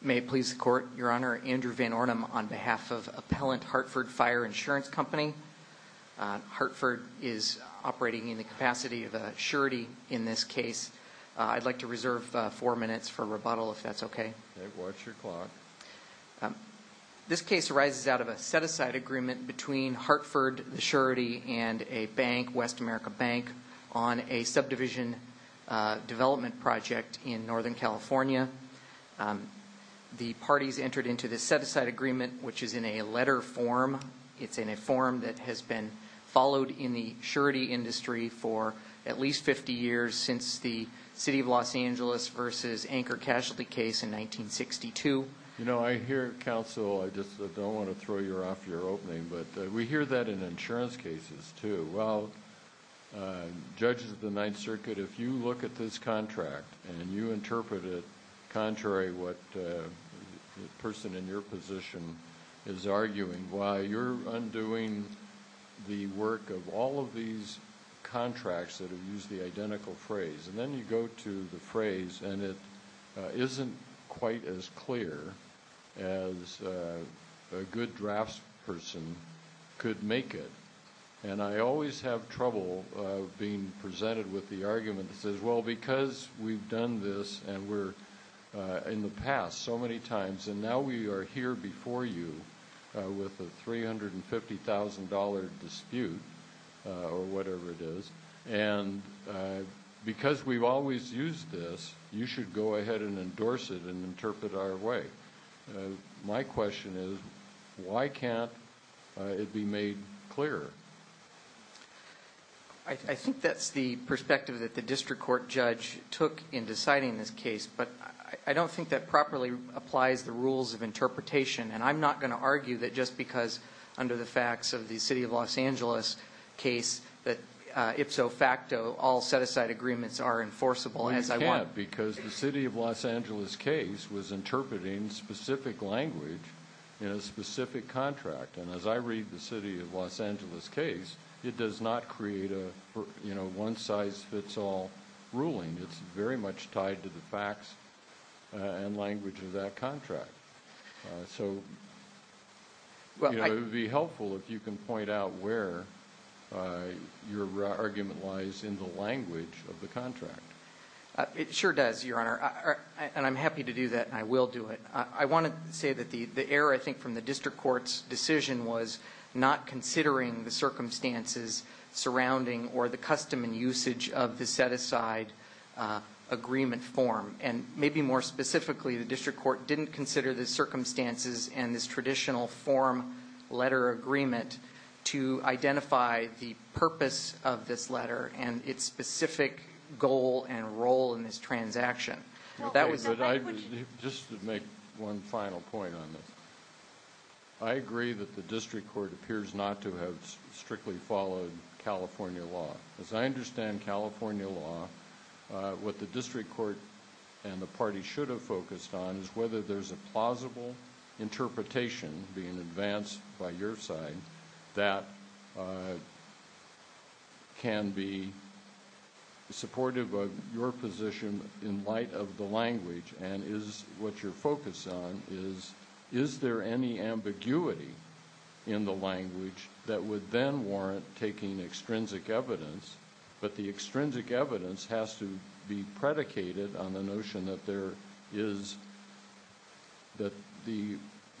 May it please the court, your honor, Andrew Van Ornem on behalf of Appellant Hartford Fire Insurance Company. Hartford is operating in the capacity of a surety in this case. I'd like to reserve four minutes for rebuttal if that's okay. This case arises out of a set-aside agreement between Hartford, the surety, and a bank, Westamerica Bank, on a subdivision development project in Northern California. The parties entered into this set-aside agreement, which is in a letter form. It's in a form that has been followed in the surety industry for at least fifty years since the City of Los Angeles v. Anchor Casualty case in 1962. You know, I hear counsel, I just don't want to throw you off your opening, but we hear that in insurance cases, too. Well, in the case of the Ninth Circuit, if you look at this contract and you interpret it contrary to what the person in your position is arguing, why you're undoing the work of all of these contracts that have used the identical phrase, and then you go to the phrase and it isn't quite as clear as a good draftsperson could make it. And I always have trouble being presented with the argument that says, well, because we've done this, and we're in the past so many times, and now we are here before you with a three hundred and fifty thousand dollar dispute, or whatever it is, and because we've always used this, you should go ahead and endorse it and interpret our way. My question is, why can't it be made clearer? I think that's the perspective that the district court judge took in deciding this case, but I don't think that properly applies the rules of interpretation, and I'm not going to argue that just because, under the facts of the City of Los Angeles case, ipso facto, all set-aside agreements are enforceable as I want. You can't, because the City of Los Angeles case was interpreting specific language in a specific contract, and as I read the City of Los Angeles case, it does not create a one-size-fits-all ruling. It's very much tied to the facts and language of that contract. It would be helpful if you could point out where your argument lies in the language of the contract. It sure does, Your Honor, and I'm happy to do that, and I will do it. I want to say that the error, I think, from the district court's decision was not considering the circumstances surrounding or the custom and usage of the set-aside agreement form, and maybe more specifically, the district court didn't consider the circumstances and this traditional form letter agreement to identify the purpose of this letter and its specific goal and role in this transaction. But that was... Just to make one final point on this, I agree that the district court appears not to have strictly followed California law. As I understand California law, what the district court and the party should have focused on is whether there's a plausible interpretation, being advanced by your side, that can be supportive of your position in light of the language and is what you're focused on is is there any ambiguity in the language that would then warrant taking extrinsic evidence, but the extrinsic evidence has to be predicated on the notion that there is, that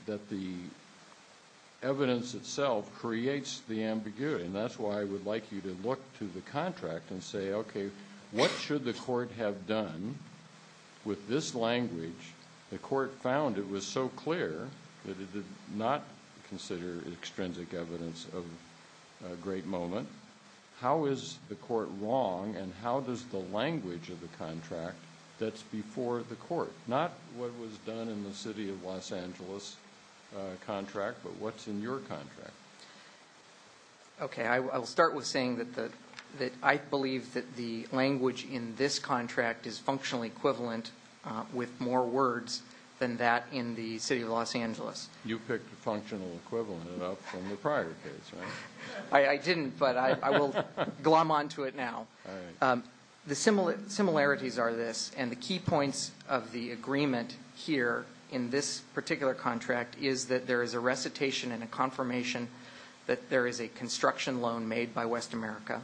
the evidence itself creates the ambiguity, and that's why I would like you to look to the contract and say, okay, what should the court have done with this language? The court found it was so clear that it did not consider extrinsic evidence of a great moment. How is the court wrong, and how does the language of the contract that's before the court, not what was done in the City of Los Angeles contract, but what's in your contract? Okay, I'll start with saying that I believe that the language in this contract is functionally equivalent with more words than that in the City of Los Angeles. You picked functional equivalent up from the prior case, right? I didn't, but I will glom onto it now. The similarities are this, and the key points of the agreement here in this particular contract is that there is a recitation and a confirmation that there is a construction loan made by West America.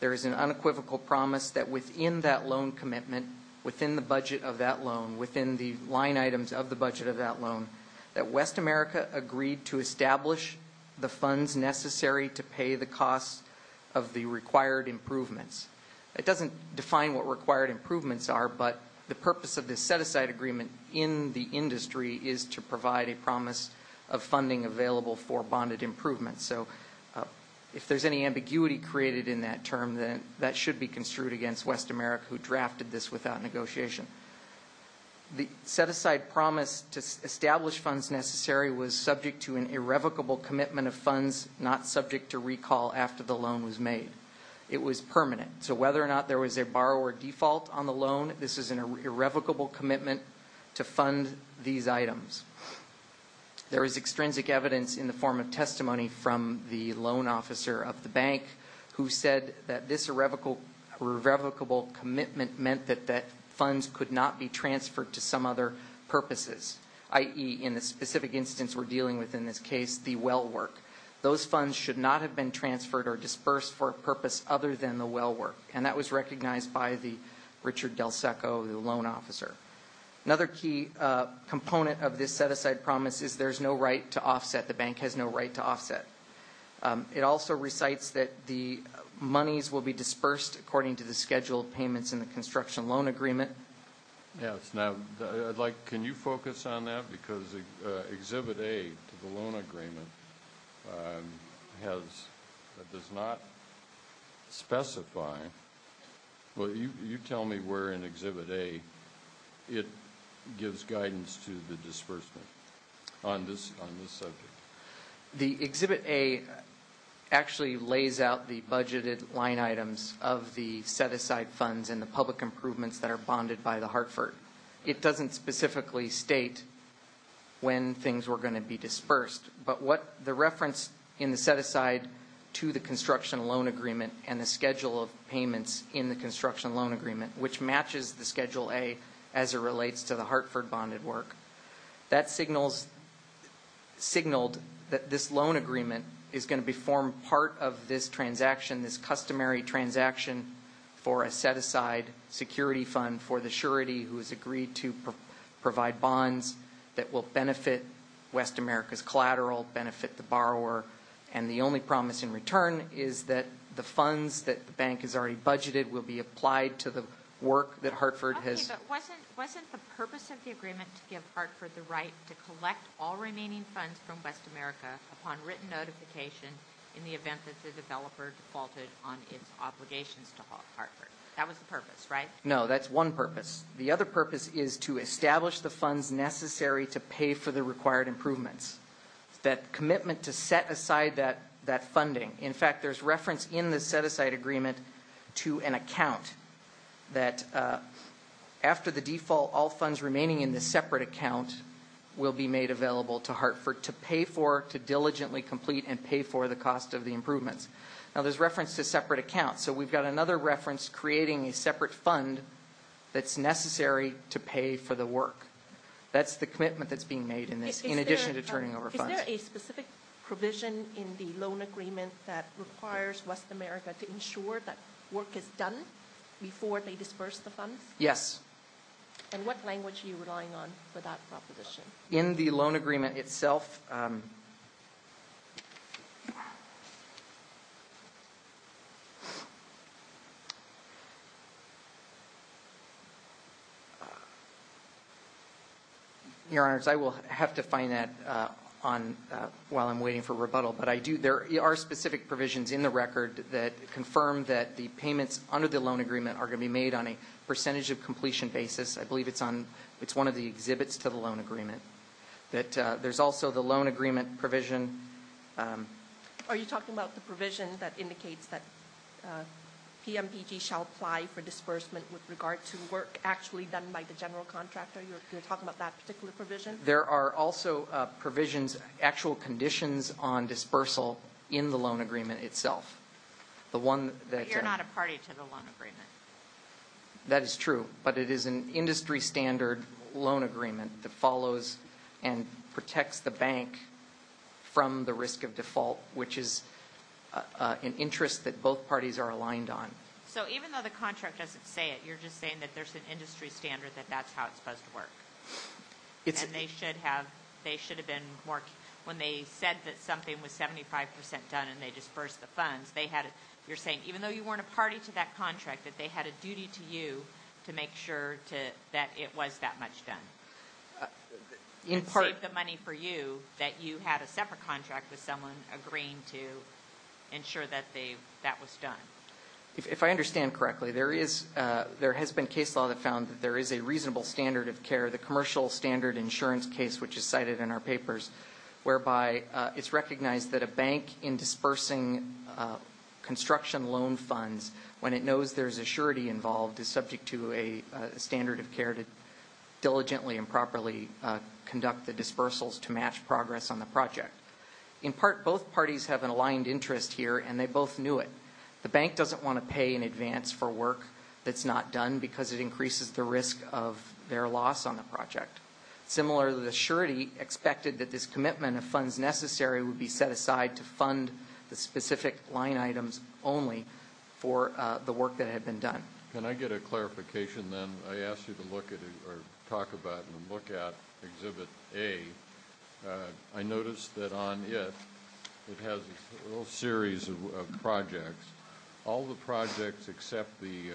There is an unequivocal promise that within that loan commitment, within the budget of that loan, within the line items of the budget of that loan, that West America agreed to establish the funds necessary to pay the costs of the required improvements. It doesn't define what required improvements are, but the purpose of this set-aside agreement in the industry is to provide a promise of funding available for bonded improvements, so if there's any ambiguity created in that term, then that should be construed against West America, who drafted this without negotiation. The set-aside promise to establish funds necessary was subject to an irrevocable commitment of funds, not subject to recall after the loan was made. It was permanent, so whether or not there was a borrower default on the loan, this is an irrevocable commitment to fund these items. There is extrinsic evidence in the form of testimony from the loan officer of the bank who said that this irrevocable commitment meant that funds could not be transferred to some other purposes, i.e., in the specific instance we're dealing with in this case, the well work. Those funds should not have been transferred or dispersed for a purpose other than the del seco of the loan officer. Another key component of this set-aside promise is there's no right to offset. The bank has no right to offset. It also recites that the monies will be dispersed according to the scheduled payments in the construction loan agreement. Yes. Now, I'd like, can you focus on that, because Exhibit A to the loan agreement has, does not specify, well, you tell me where in Exhibit A it gives guidance to the disbursement on this subject. The Exhibit A actually lays out the budgeted line items of the set-aside funds and the public improvements that are bonded by the Hartford. It doesn't specifically state when things were going to be dispersed, but what the reference in the set-aside to the construction loan agreement and the schedule of payments in the construction loan agreement, which matches the Schedule A as it relates to the Hartford bonded work. That signals, signaled that this loan agreement is going to be formed part of this transaction, this customary transaction for a set-aside security fund for the surety who has agreed to provide bonds that will benefit West America's collateral, benefit the borrower. And the only promise in return is that the funds that the bank has already budgeted will be applied to the work that Hartford has. Okay, but wasn't, wasn't the purpose of the agreement to give Hartford the right to collect all remaining funds from West America upon written notification in the event that the developer defaulted on its obligations to Hartford? That was the purpose, right? No, that's one purpose. The other purpose is to establish the funds necessary to pay for the required improvements. That commitment to set aside that funding, in fact, there's reference in the set-aside agreement to an account that after the default, all funds remaining in the separate account will be made available to Hartford to pay for, to diligently complete and pay for the cost of the improvements. Now, there's reference to separate accounts, so we've got another reference creating a necessary to pay for the work. That's the commitment that's being made in this, in addition to turning over funds. Is there a specific provision in the loan agreement that requires West America to ensure that work is done before they disperse the funds? Yes. And what language are you relying on for that proposition? In the loan agreement itself, Your Honors, I will have to find that on, while I'm waiting for rebuttal. But I do, there are specific provisions in the record that confirm that the payments under the loan agreement are going to be made on a percentage of completion basis. I believe it's on, it's one of the exhibits to the loan agreement. That there's also the loan agreement provision. Are you talking about the provision that indicates that PMDG shall apply for disbursement with regard to work actually done by the general contractor? You're talking about that particular provision? There are also provisions, actual conditions on dispersal in the loan agreement itself. The one that... But you're not a party to the loan agreement. That is true. But it is an industry standard loan agreement that follows and protects the bank from the risk of default, which is an interest that both parties are aligned on. So even though the contract doesn't say it, you're just saying that there's an industry standard that that's how it's supposed to work. And they should have been more, when they said that something was 75% done and they dispersed the funds, they had a, you're saying even though you weren't a party to that contract that they had a duty to you to make sure that it was that much done. In part... And save the money for you that you had a separate contract with someone agreeing to ensure that that was done. If I understand correctly, there has been case law that found that there is a reasonable standard of care, the commercial standard insurance case, which is cited in our papers, whereby it's recognized that a bank in dispersing construction loan funds, when it knows there's a surety involved, is subject to a standard of care to diligently and properly conduct the dispersals to match progress on the project. In part, both parties have an aligned interest here and they both knew it. The bank doesn't want to pay in advance for work that's not done because it increases the risk of their loss on the project. Similarly, the surety expected that this commitment of funds necessary would be set aside to fund the specific line items only for the work that had been done. Can I get a clarification then? I asked you to look at it or talk about it and look at Exhibit A. I noticed that on it, it has a little series of projects. All the projects except the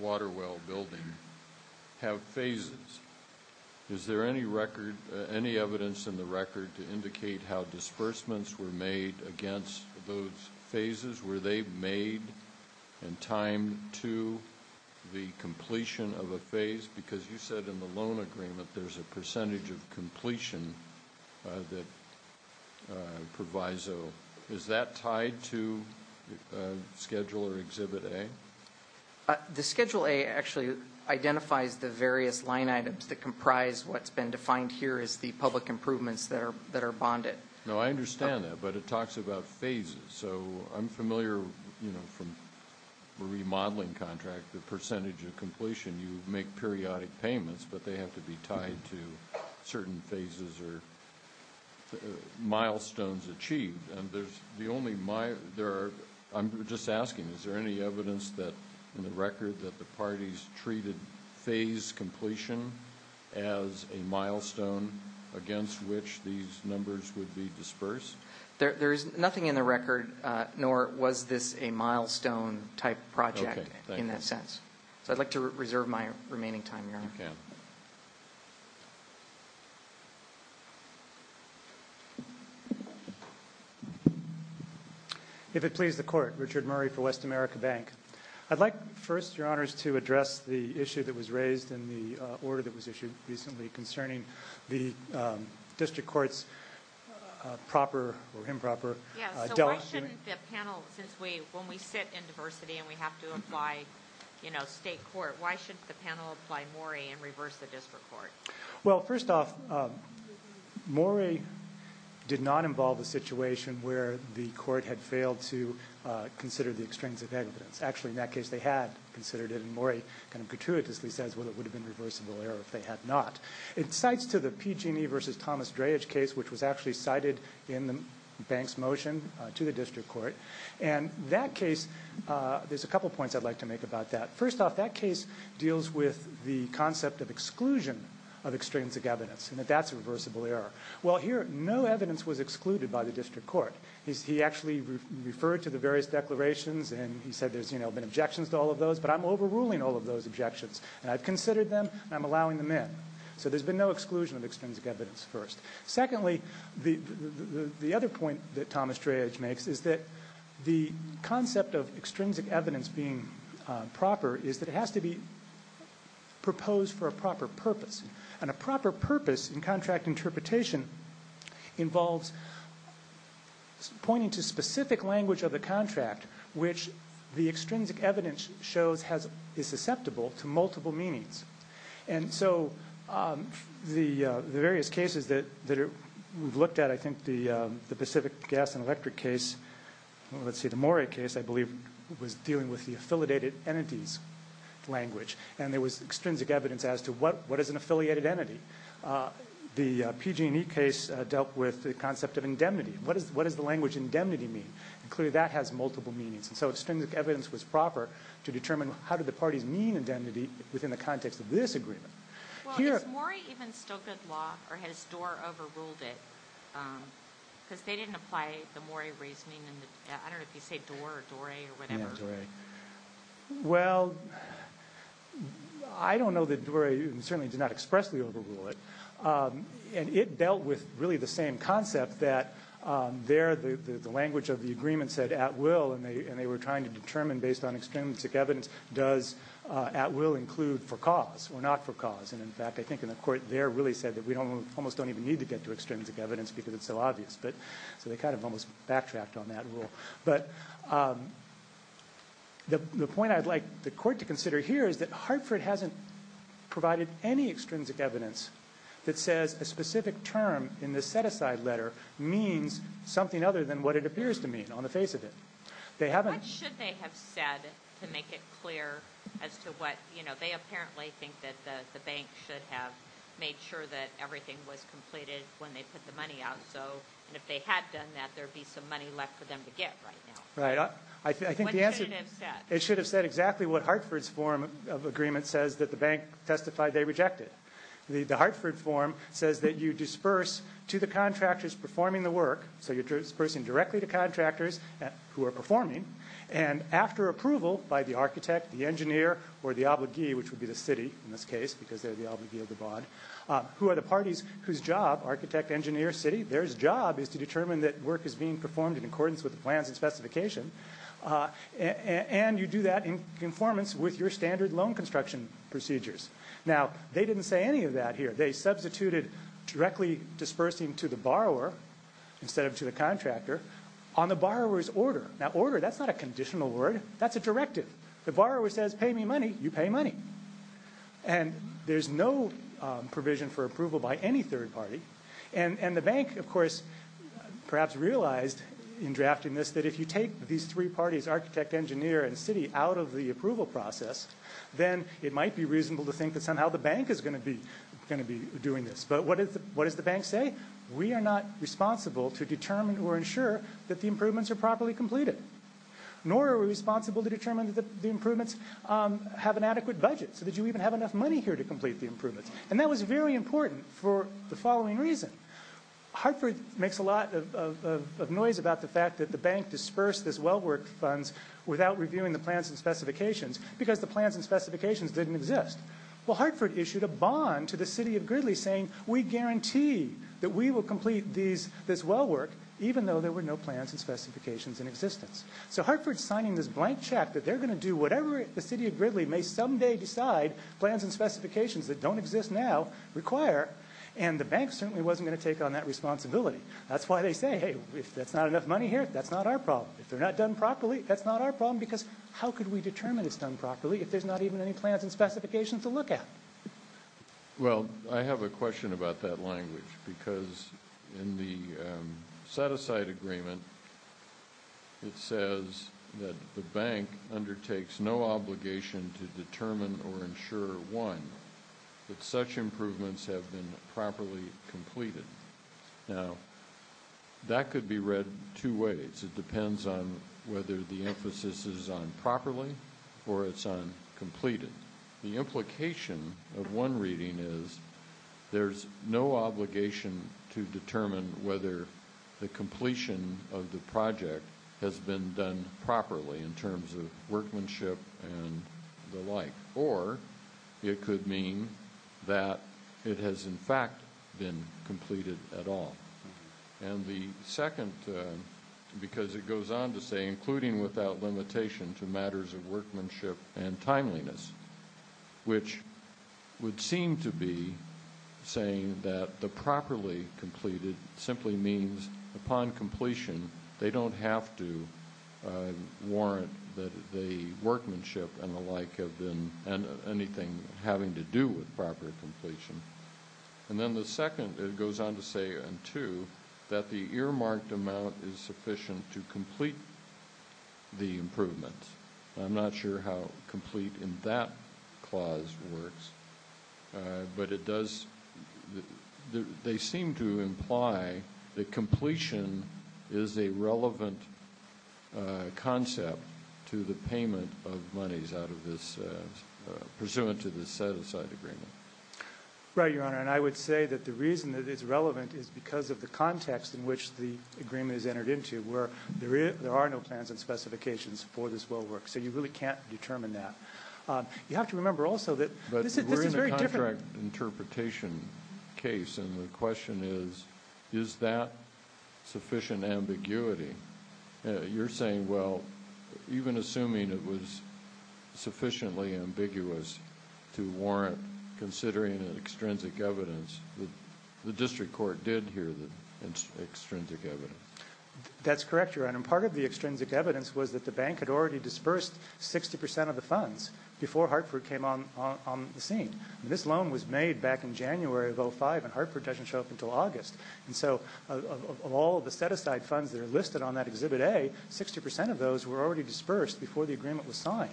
water well building have phases. Is there any record, any evidence in the record to indicate how disbursements were made against those phases? Were they made in time to the completion of a phase? Because you said in the loan agreement there's a percentage of completion that proviso. Is that tied to Schedule or Exhibit A? The Schedule A actually identifies the various line items that comprise what's been defined here as the public improvements that are bonded. No, I understand that, but it talks about phases. So I'm familiar, you know, from a remodeling contract, the percentage of completion. You make periodic payments, but they have to be tied to certain phases or milestones achieved. I'm just asking, is there any evidence in the record that the parties treated phase completion as a milestone against which these numbers would be disbursed? There's nothing in the record, nor was this a milestone type project in that sense. So I'd like to reserve my remaining time, Your Honor. If it please the Court, Richard Murray for West America Bank. I'd like first, Your Honors, to address the issue that was raised in the order that was issued recently concerning the District Court's proper, or improper, delegation. Yeah, so why shouldn't the panel, since we, when we sit in diversity and we have to apply, you know, state court, why shouldn't the panel apply Murray and reverse the District Court? Well first off, Murray did not involve a situation where the Court had failed to consider the extremes of evidence. Actually, in that case, they had considered it, and Murray kind of gratuitously says, well, it would have been reversible error if they had not. It cites to the PG&E versus Thomas Dreyage case, which was actually cited in the bank's motion to the District Court. And that case, there's a couple points I'd like to make about that. First off, that case deals with the concept of exclusion of extrinsic evidence, and that that's a reversible error. Well here, no evidence was excluded by the District Court. He actually referred to the various declarations, and he said there's, you know, been objections to all of those, but I'm overruling all of those objections. And I've considered them, and I'm allowing them in. So there's been no exclusion of extrinsic evidence first. Secondly, the other point that Thomas Dreyage makes is that the concept of extrinsic evidence being proper is that it has to be proposed for a proper purpose. And a proper purpose in contract interpretation involves pointing to specific language of the contract, which the extrinsic evidence shows is susceptible to multiple meanings. And so the various cases that we've looked at, I think the Pacific Gas and Electric case, let's see, the Moray case, I believe, was dealing with the affiliated entities language, and there was extrinsic evidence as to what is an affiliated entity. The PG&E case dealt with the concept of indemnity. What does the language indemnity mean? And clearly that has multiple meanings. And so extrinsic evidence was proper to determine how did the parties mean indemnity within the context of this agreement. Here... Well, is Moray even still good law, or has Doar overruled it? Because they didn't apply the Moray reasoning, and I don't know if you say Doar or Dorey or whatever. Yeah, Dorey. Well, I don't know that Dorey certainly did not expressly overrule it. And it dealt with really the same concept that there the language of the agreement said at will, and they were trying to determine based on extrinsic evidence, does at will include for cause or not for cause. And in fact, I think in the court there really said that we almost don't even need to get to extrinsic evidence because it's so obvious. So they kind of almost backtracked on that rule. But the point I'd like the court to consider here is that Hartford hasn't provided any that says a specific term in the set-aside letter means something other than what it appears to mean on the face of it. They haven't... What should they have said to make it clear as to what, you know, they apparently think that the bank should have made sure that everything was completed when they put the money out. So, and if they had done that, there'd be some money left for them to get right now. Right. I think the answer... What should it have said? It should have said exactly what Hartford's form of agreement says that the bank testified they rejected. The Hartford form says that you disperse to the contractors performing the work. So you're dispersing directly to contractors who are performing. And after approval by the architect, the engineer, or the obligee, which would be the city in this case because they're the obligee of the bond, who are the parties whose job, architect, engineer, city, their job is to determine that work is being performed in accordance with the plans and specification. And you do that in conformance with your standard loan construction procedures. Now, they didn't say any of that here. They substituted directly dispersing to the borrower instead of to the contractor on the borrower's order. Now, order, that's not a conditional word. That's a directive. The borrower says, pay me money, you pay money. And there's no provision for approval by any third party. And the bank, of course, perhaps realized in drafting this that if you take these three parties, architect, engineer, and city out of the approval process, then it might be think that somehow the bank is going to be going to be doing this. But what does the bank say? We are not responsible to determine or ensure that the improvements are properly completed, nor are we responsible to determine that the improvements have an adequate budget so that you even have enough money here to complete the improvements. And that was very important for the following reason. Hartford makes a lot of noise about the fact that the bank dispersed this well work funds without reviewing the plans and specifications because the plans and specifications didn't exist. Well, Hartford issued a bond to the city of Gridley saying, we guarantee that we will complete these this well work, even though there were no plans and specifications in existence. So Hartford signing this blank check that they're going to do whatever the city of Gridley may someday decide plans and specifications that don't exist now require. And the bank certainly wasn't going to take on that responsibility. That's why they say, hey, if that's not enough money here, that's not our problem. If they're not done properly, that's not our problem. Because how could we determine it's done properly if there's not even any plans and specifications in existence? Yeah. Well, I have a question about that language because in the set aside agreement, it says that the bank undertakes no obligation to determine or ensure one, that such improvements have been properly completed. Now, that could be read two ways. It depends on whether the emphasis is on properly or it's on completed. The implication of one reading is there's no obligation to determine whether the completion of the project has been done properly in terms of workmanship and the like, or it could mean that it has, in fact, been completed at all. And the second, because it goes on to say, including without limitation to matters of which would seem to be saying that the properly completed simply means upon completion, they don't have to warrant that the workmanship and the like have been and anything having to do with proper completion. And then the second, it goes on to say, and two, that the earmarked amount is sufficient to complete the improvement. I'm not sure how complete in that clause works, but it does, they seem to imply that completion is a relevant concept to the payment of monies out of this, pursuant to the set aside agreement. Right, Your Honor. And I would say that the reason that it's relevant is because of the context in which the agreement is entered into, where there are no plans and specifications for this well work, so you really can't determine that. You have to remember also that this is very different. But we're in a contract interpretation case, and the question is, is that sufficient ambiguity? You're saying, well, even assuming it was sufficiently ambiguous to warrant considering an extrinsic evidence, the district court did hear the extrinsic evidence. That's correct, Your Honor. And part of the extrinsic evidence was that the bank had already dispersed 60 percent of the funds before Hartford came on the scene. This loan was made back in January of 05, and Hartford doesn't show up until August. And so, of all the set aside funds that are listed on that Exhibit A, 60 percent of those were already dispersed before the agreement was signed.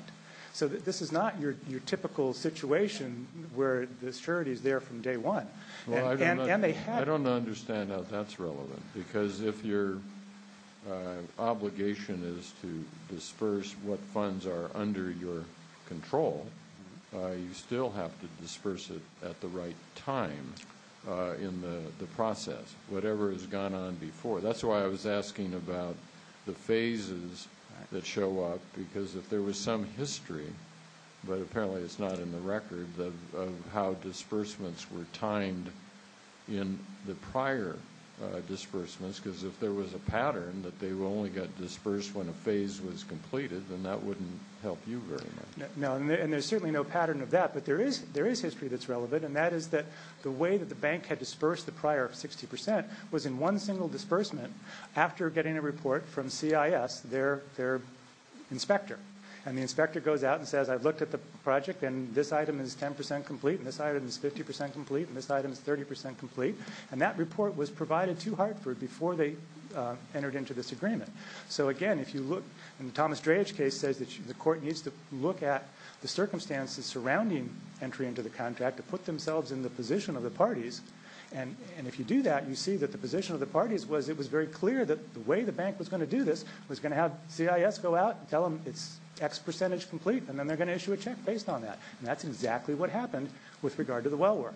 So this is not your typical situation, where the surety is there from day one. Well, I don't understand how that's relevant. Because if your obligation is to disperse what funds are under your control, you still have to disperse it at the right time in the process, whatever has gone on before. That's why I was asking about the phases that show up, because if there was some history, but apparently it's not in the record, of how disbursements were timed in the prior disbursements, because if there was a pattern that they only got dispersed when a phase was completed, then that wouldn't help you very much. No, and there's certainly no pattern of that, but there is history that's relevant, and that is that the way that the bank had dispersed the prior 60 percent was in one single disbursement after getting a report from CIS, their inspector. And the inspector goes out and says, I've looked at the project, and this item is 10 percent complete, and this item is 50 percent complete, and this item is 30 percent complete. And that report was provided to Hartford before they entered into this agreement. So again, if you look, and the Thomas Dreyage case says that the court needs to look at the circumstances surrounding entry into the contract to put themselves in the position of the parties, and if you do that, you see that the position of the parties was it was very clear that the way the bank was going to do this was going to have CIS go out and tell them it's X percentage complete, and then they're going to issue a check based on that. And that's exactly what happened with regard to the well work.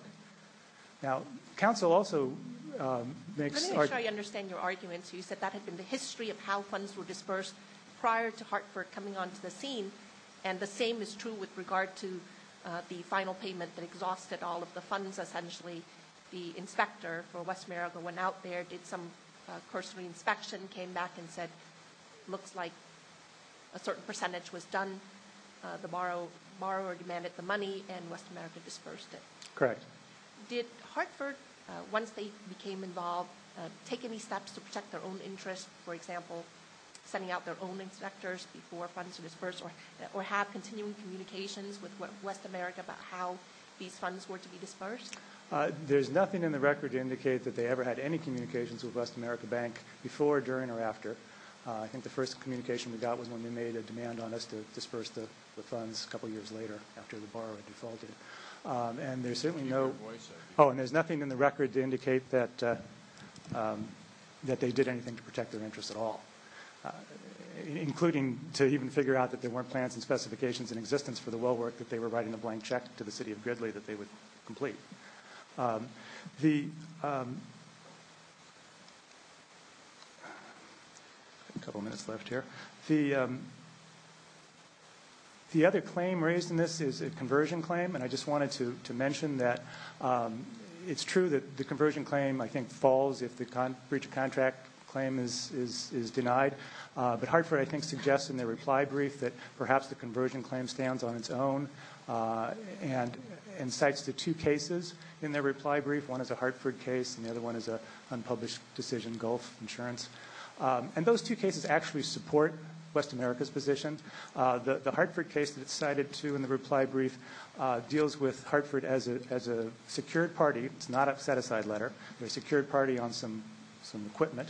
Now, counsel also makes arguments. Let me make sure I understand your arguments. You said that had been the history of how funds were dispersed prior to Hartford coming onto the scene, and the same is true with regard to the final payment that exhausted all of the funds, essentially. The inspector for West Marigold went out there, did some cursory inspection, came back and said, looks like a certain percentage was done. The borrower demanded the money, and West America dispersed it. Correct. Did Hartford, once they became involved, take any steps to protect their own interests, for example, sending out their own inspectors before funds were dispersed or have continuing communications with West America about how these funds were to be dispersed? There's nothing in the record to indicate that they ever had any communications with West America Bank before, during, or after. I think the first communication we got was when they made a demand on us to disperse the funds a couple of years later after the borrower defaulted. And there's certainly no... Can you hear my voice? Oh, and there's nothing in the record to indicate that they did anything to protect their interests at all, including to even figure out that there weren't plans and specifications in existence for the well work that they were writing a blank check to the city of Gridley that they would complete. The... A couple of minutes left here. The other claim raised in this is a conversion claim, and I just wanted to mention that it's true that the conversion claim, I think, falls if the breach of contract claim is denied. But Hartford, I think, suggests in their reply brief that perhaps the conversion claim stands on its own and cites the two cases in their reply brief, one is a Hartford case and the other one is an unpublished decision, Gulf Insurance. And those two cases actually support West America's position. The Hartford case that it's cited to in the reply brief deals with Hartford as a secured party, it's not a set-aside letter, they're a secured party on some equipment.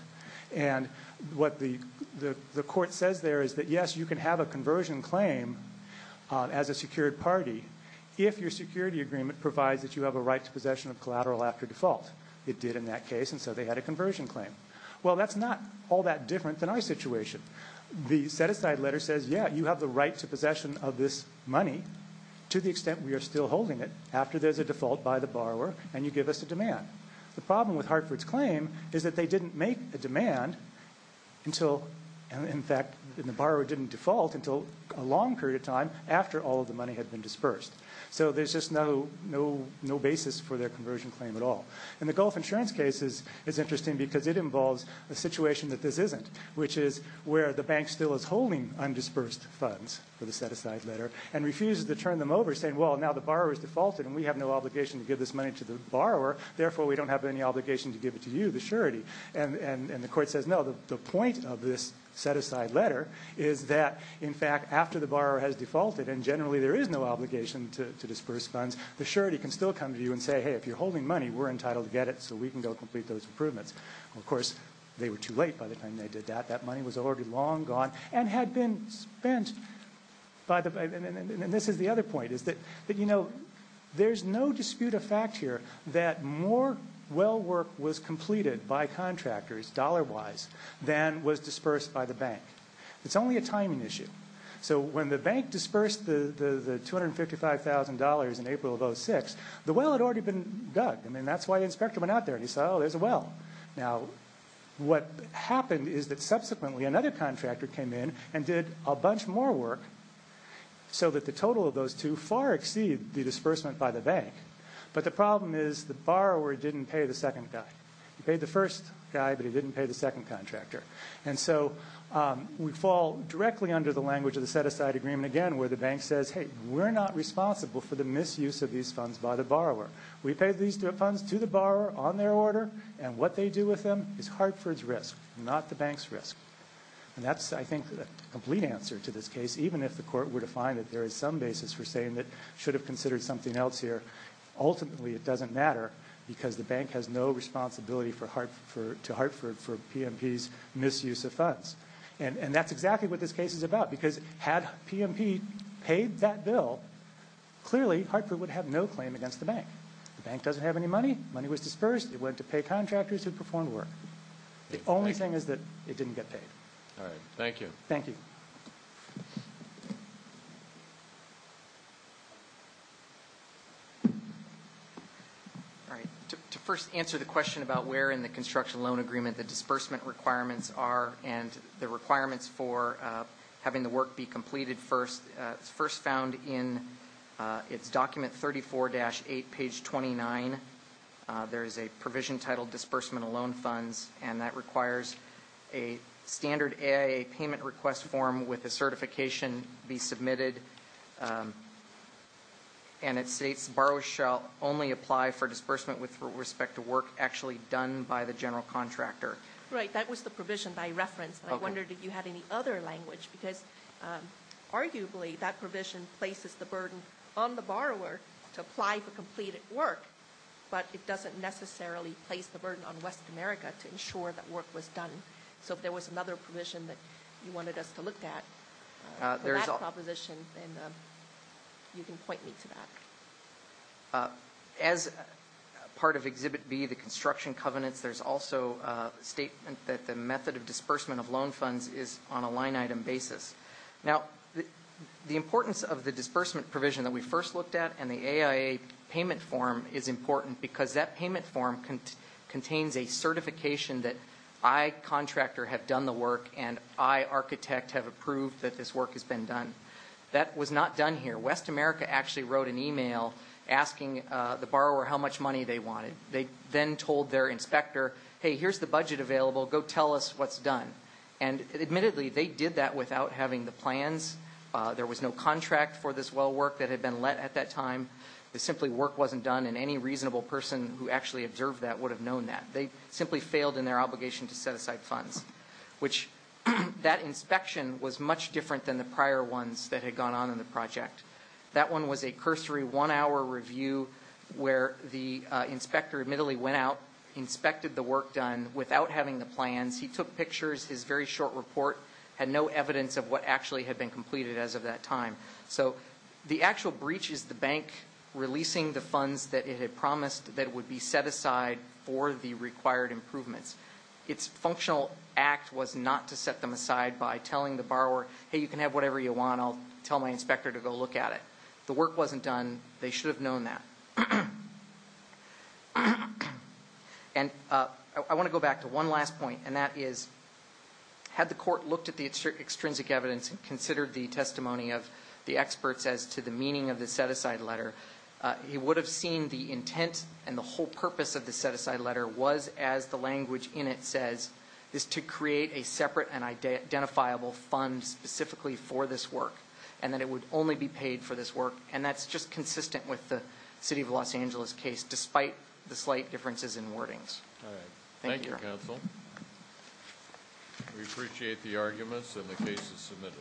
And what the court says there is that, yes, you can have a conversion claim as a secured party if your security agreement provides that you have a right to possession of collateral after default. It did in that case, and so they had a conversion claim. Well, that's not all that different than our situation. The set-aside letter says, yeah, you have the right to possession of this money to the extent we are still holding it after there's a default by the borrower and you give us a demand. The problem with Hartford's claim is that they didn't make a demand until, in fact, the borrower didn't default until a long period of time after all of the money had been dispersed. So there's just no basis for their conversion claim at all. And the Gulf Insurance case is interesting because it involves a situation that this isn't, which is where the bank still is holding undisbursed funds for the set-aside letter and refuses to turn them over saying, well, now the borrower has defaulted and we have no obligation to give this money to the borrower. Therefore, we don't have any obligation to give it to you, the surety. And the court says, no, the point of this set-aside letter is that, in fact, after the borrower has defaulted and generally there is no obligation to disperse funds, the surety can still come to you and say, hey, if you're holding money, we're entitled to get it so we can go complete those improvements. Of course, they were too late by the time they did that. That money was already long gone and had been spent by the bank. And this is the other point, is that, you know, there's no dispute of fact here that more well work was completed by contractors dollar-wise than was dispersed by the bank. It's only a timing issue. So when the bank dispersed the $255,000 in April of 2006, the well had already been dug. I mean, that's why the inspector went out there and he said, oh, there's a well. Now, what happened is that subsequently another contractor came in and did a bunch more work so that the total of those two far exceed the disbursement by the bank, but the problem is the borrower didn't pay the second guy. He paid the first guy, but he didn't pay the second contractor. And so we fall directly under the language of the set-aside agreement again where the bank says, hey, we're not responsible for the misuse of these funds by the borrower. We pay these funds to the borrower on their order and what they do with them is Hartford's risk, not the bank's risk. And that's, I think, the complete answer to this case even if the court were to find that there is some basis for saying that should have considered something else here. Ultimately, it doesn't matter because the bank has no responsibility to Hartford for PMP's misuse of funds. And that's exactly what this case is about because had PMP paid that bill, clearly Hartford would have no claim against the bank. The bank doesn't have any money. Money was dispersed. It went to pay contractors who performed work. The only thing is that it didn't get paid. All right. Thank you. Thank you. All right. To first answer the question about where in the construction loan agreement the disbursement requirements are and the requirements for having the work be completed first, first found in its document 34-8, page 29. There is a provision titled disbursement of loan funds. And that requires a standard AIA payment request form with a certification be submitted. And it states borrowers shall only apply for disbursement with respect to work actually done by the general contractor. Right, that was the provision by reference. I wondered if you had any other language because arguably that provision places the burden on the borrower to apply for completed work. But it doesn't necessarily place the burden on West America to ensure that work was done. So if there was another provision that you wanted us to look at. There is a proposition and you can point me to that. As part of exhibit B, the construction covenants, there's also a statement that the method of disbursement of loan funds is on a line item basis. Now, the importance of the disbursement provision that we first looked at and the AIA payment form is important because that payment form contains a certification that I, contractor, have done the work and I, architect, have approved that this work has been done. That was not done here. West America actually wrote an email asking the borrower how much money they wanted. They then told their inspector, hey, here's the budget available, go tell us what's done. And admittedly, they did that without having the plans. There was no contract for this well work that had been let at that time. The simply work wasn't done and any reasonable person who actually observed that would have known that. They simply failed in their obligation to set aside funds. Which that inspection was much different than the prior ones that had gone on in the project. That one was a cursory one hour review where the inspector admittedly went out, inspected the work done without having the plans. He took pictures, his very short report had no evidence of what actually had been completed as of that time. So, the actual breach is the bank releasing the funds that it had promised that would be set aside for the required improvements. It's functional act was not to set them aside by telling the borrower, hey, you can have whatever you want. I'll tell my inspector to go look at it. The work wasn't done. They should have known that. And I want to go back to one last point and that is, had the court looked at the extrinsic evidence and considered the testimony of the experts as to the meaning of the set aside letter. He would have seen the intent and the whole purpose of the set aside letter was as the language in it says, is to create a separate and identifiable fund specifically for this work. And that it would only be paid for this work. And that's just consistent with the city of Los Angeles case, despite the slight differences in wordings. All right. Thank you, counsel. We appreciate the arguments and the cases submitted.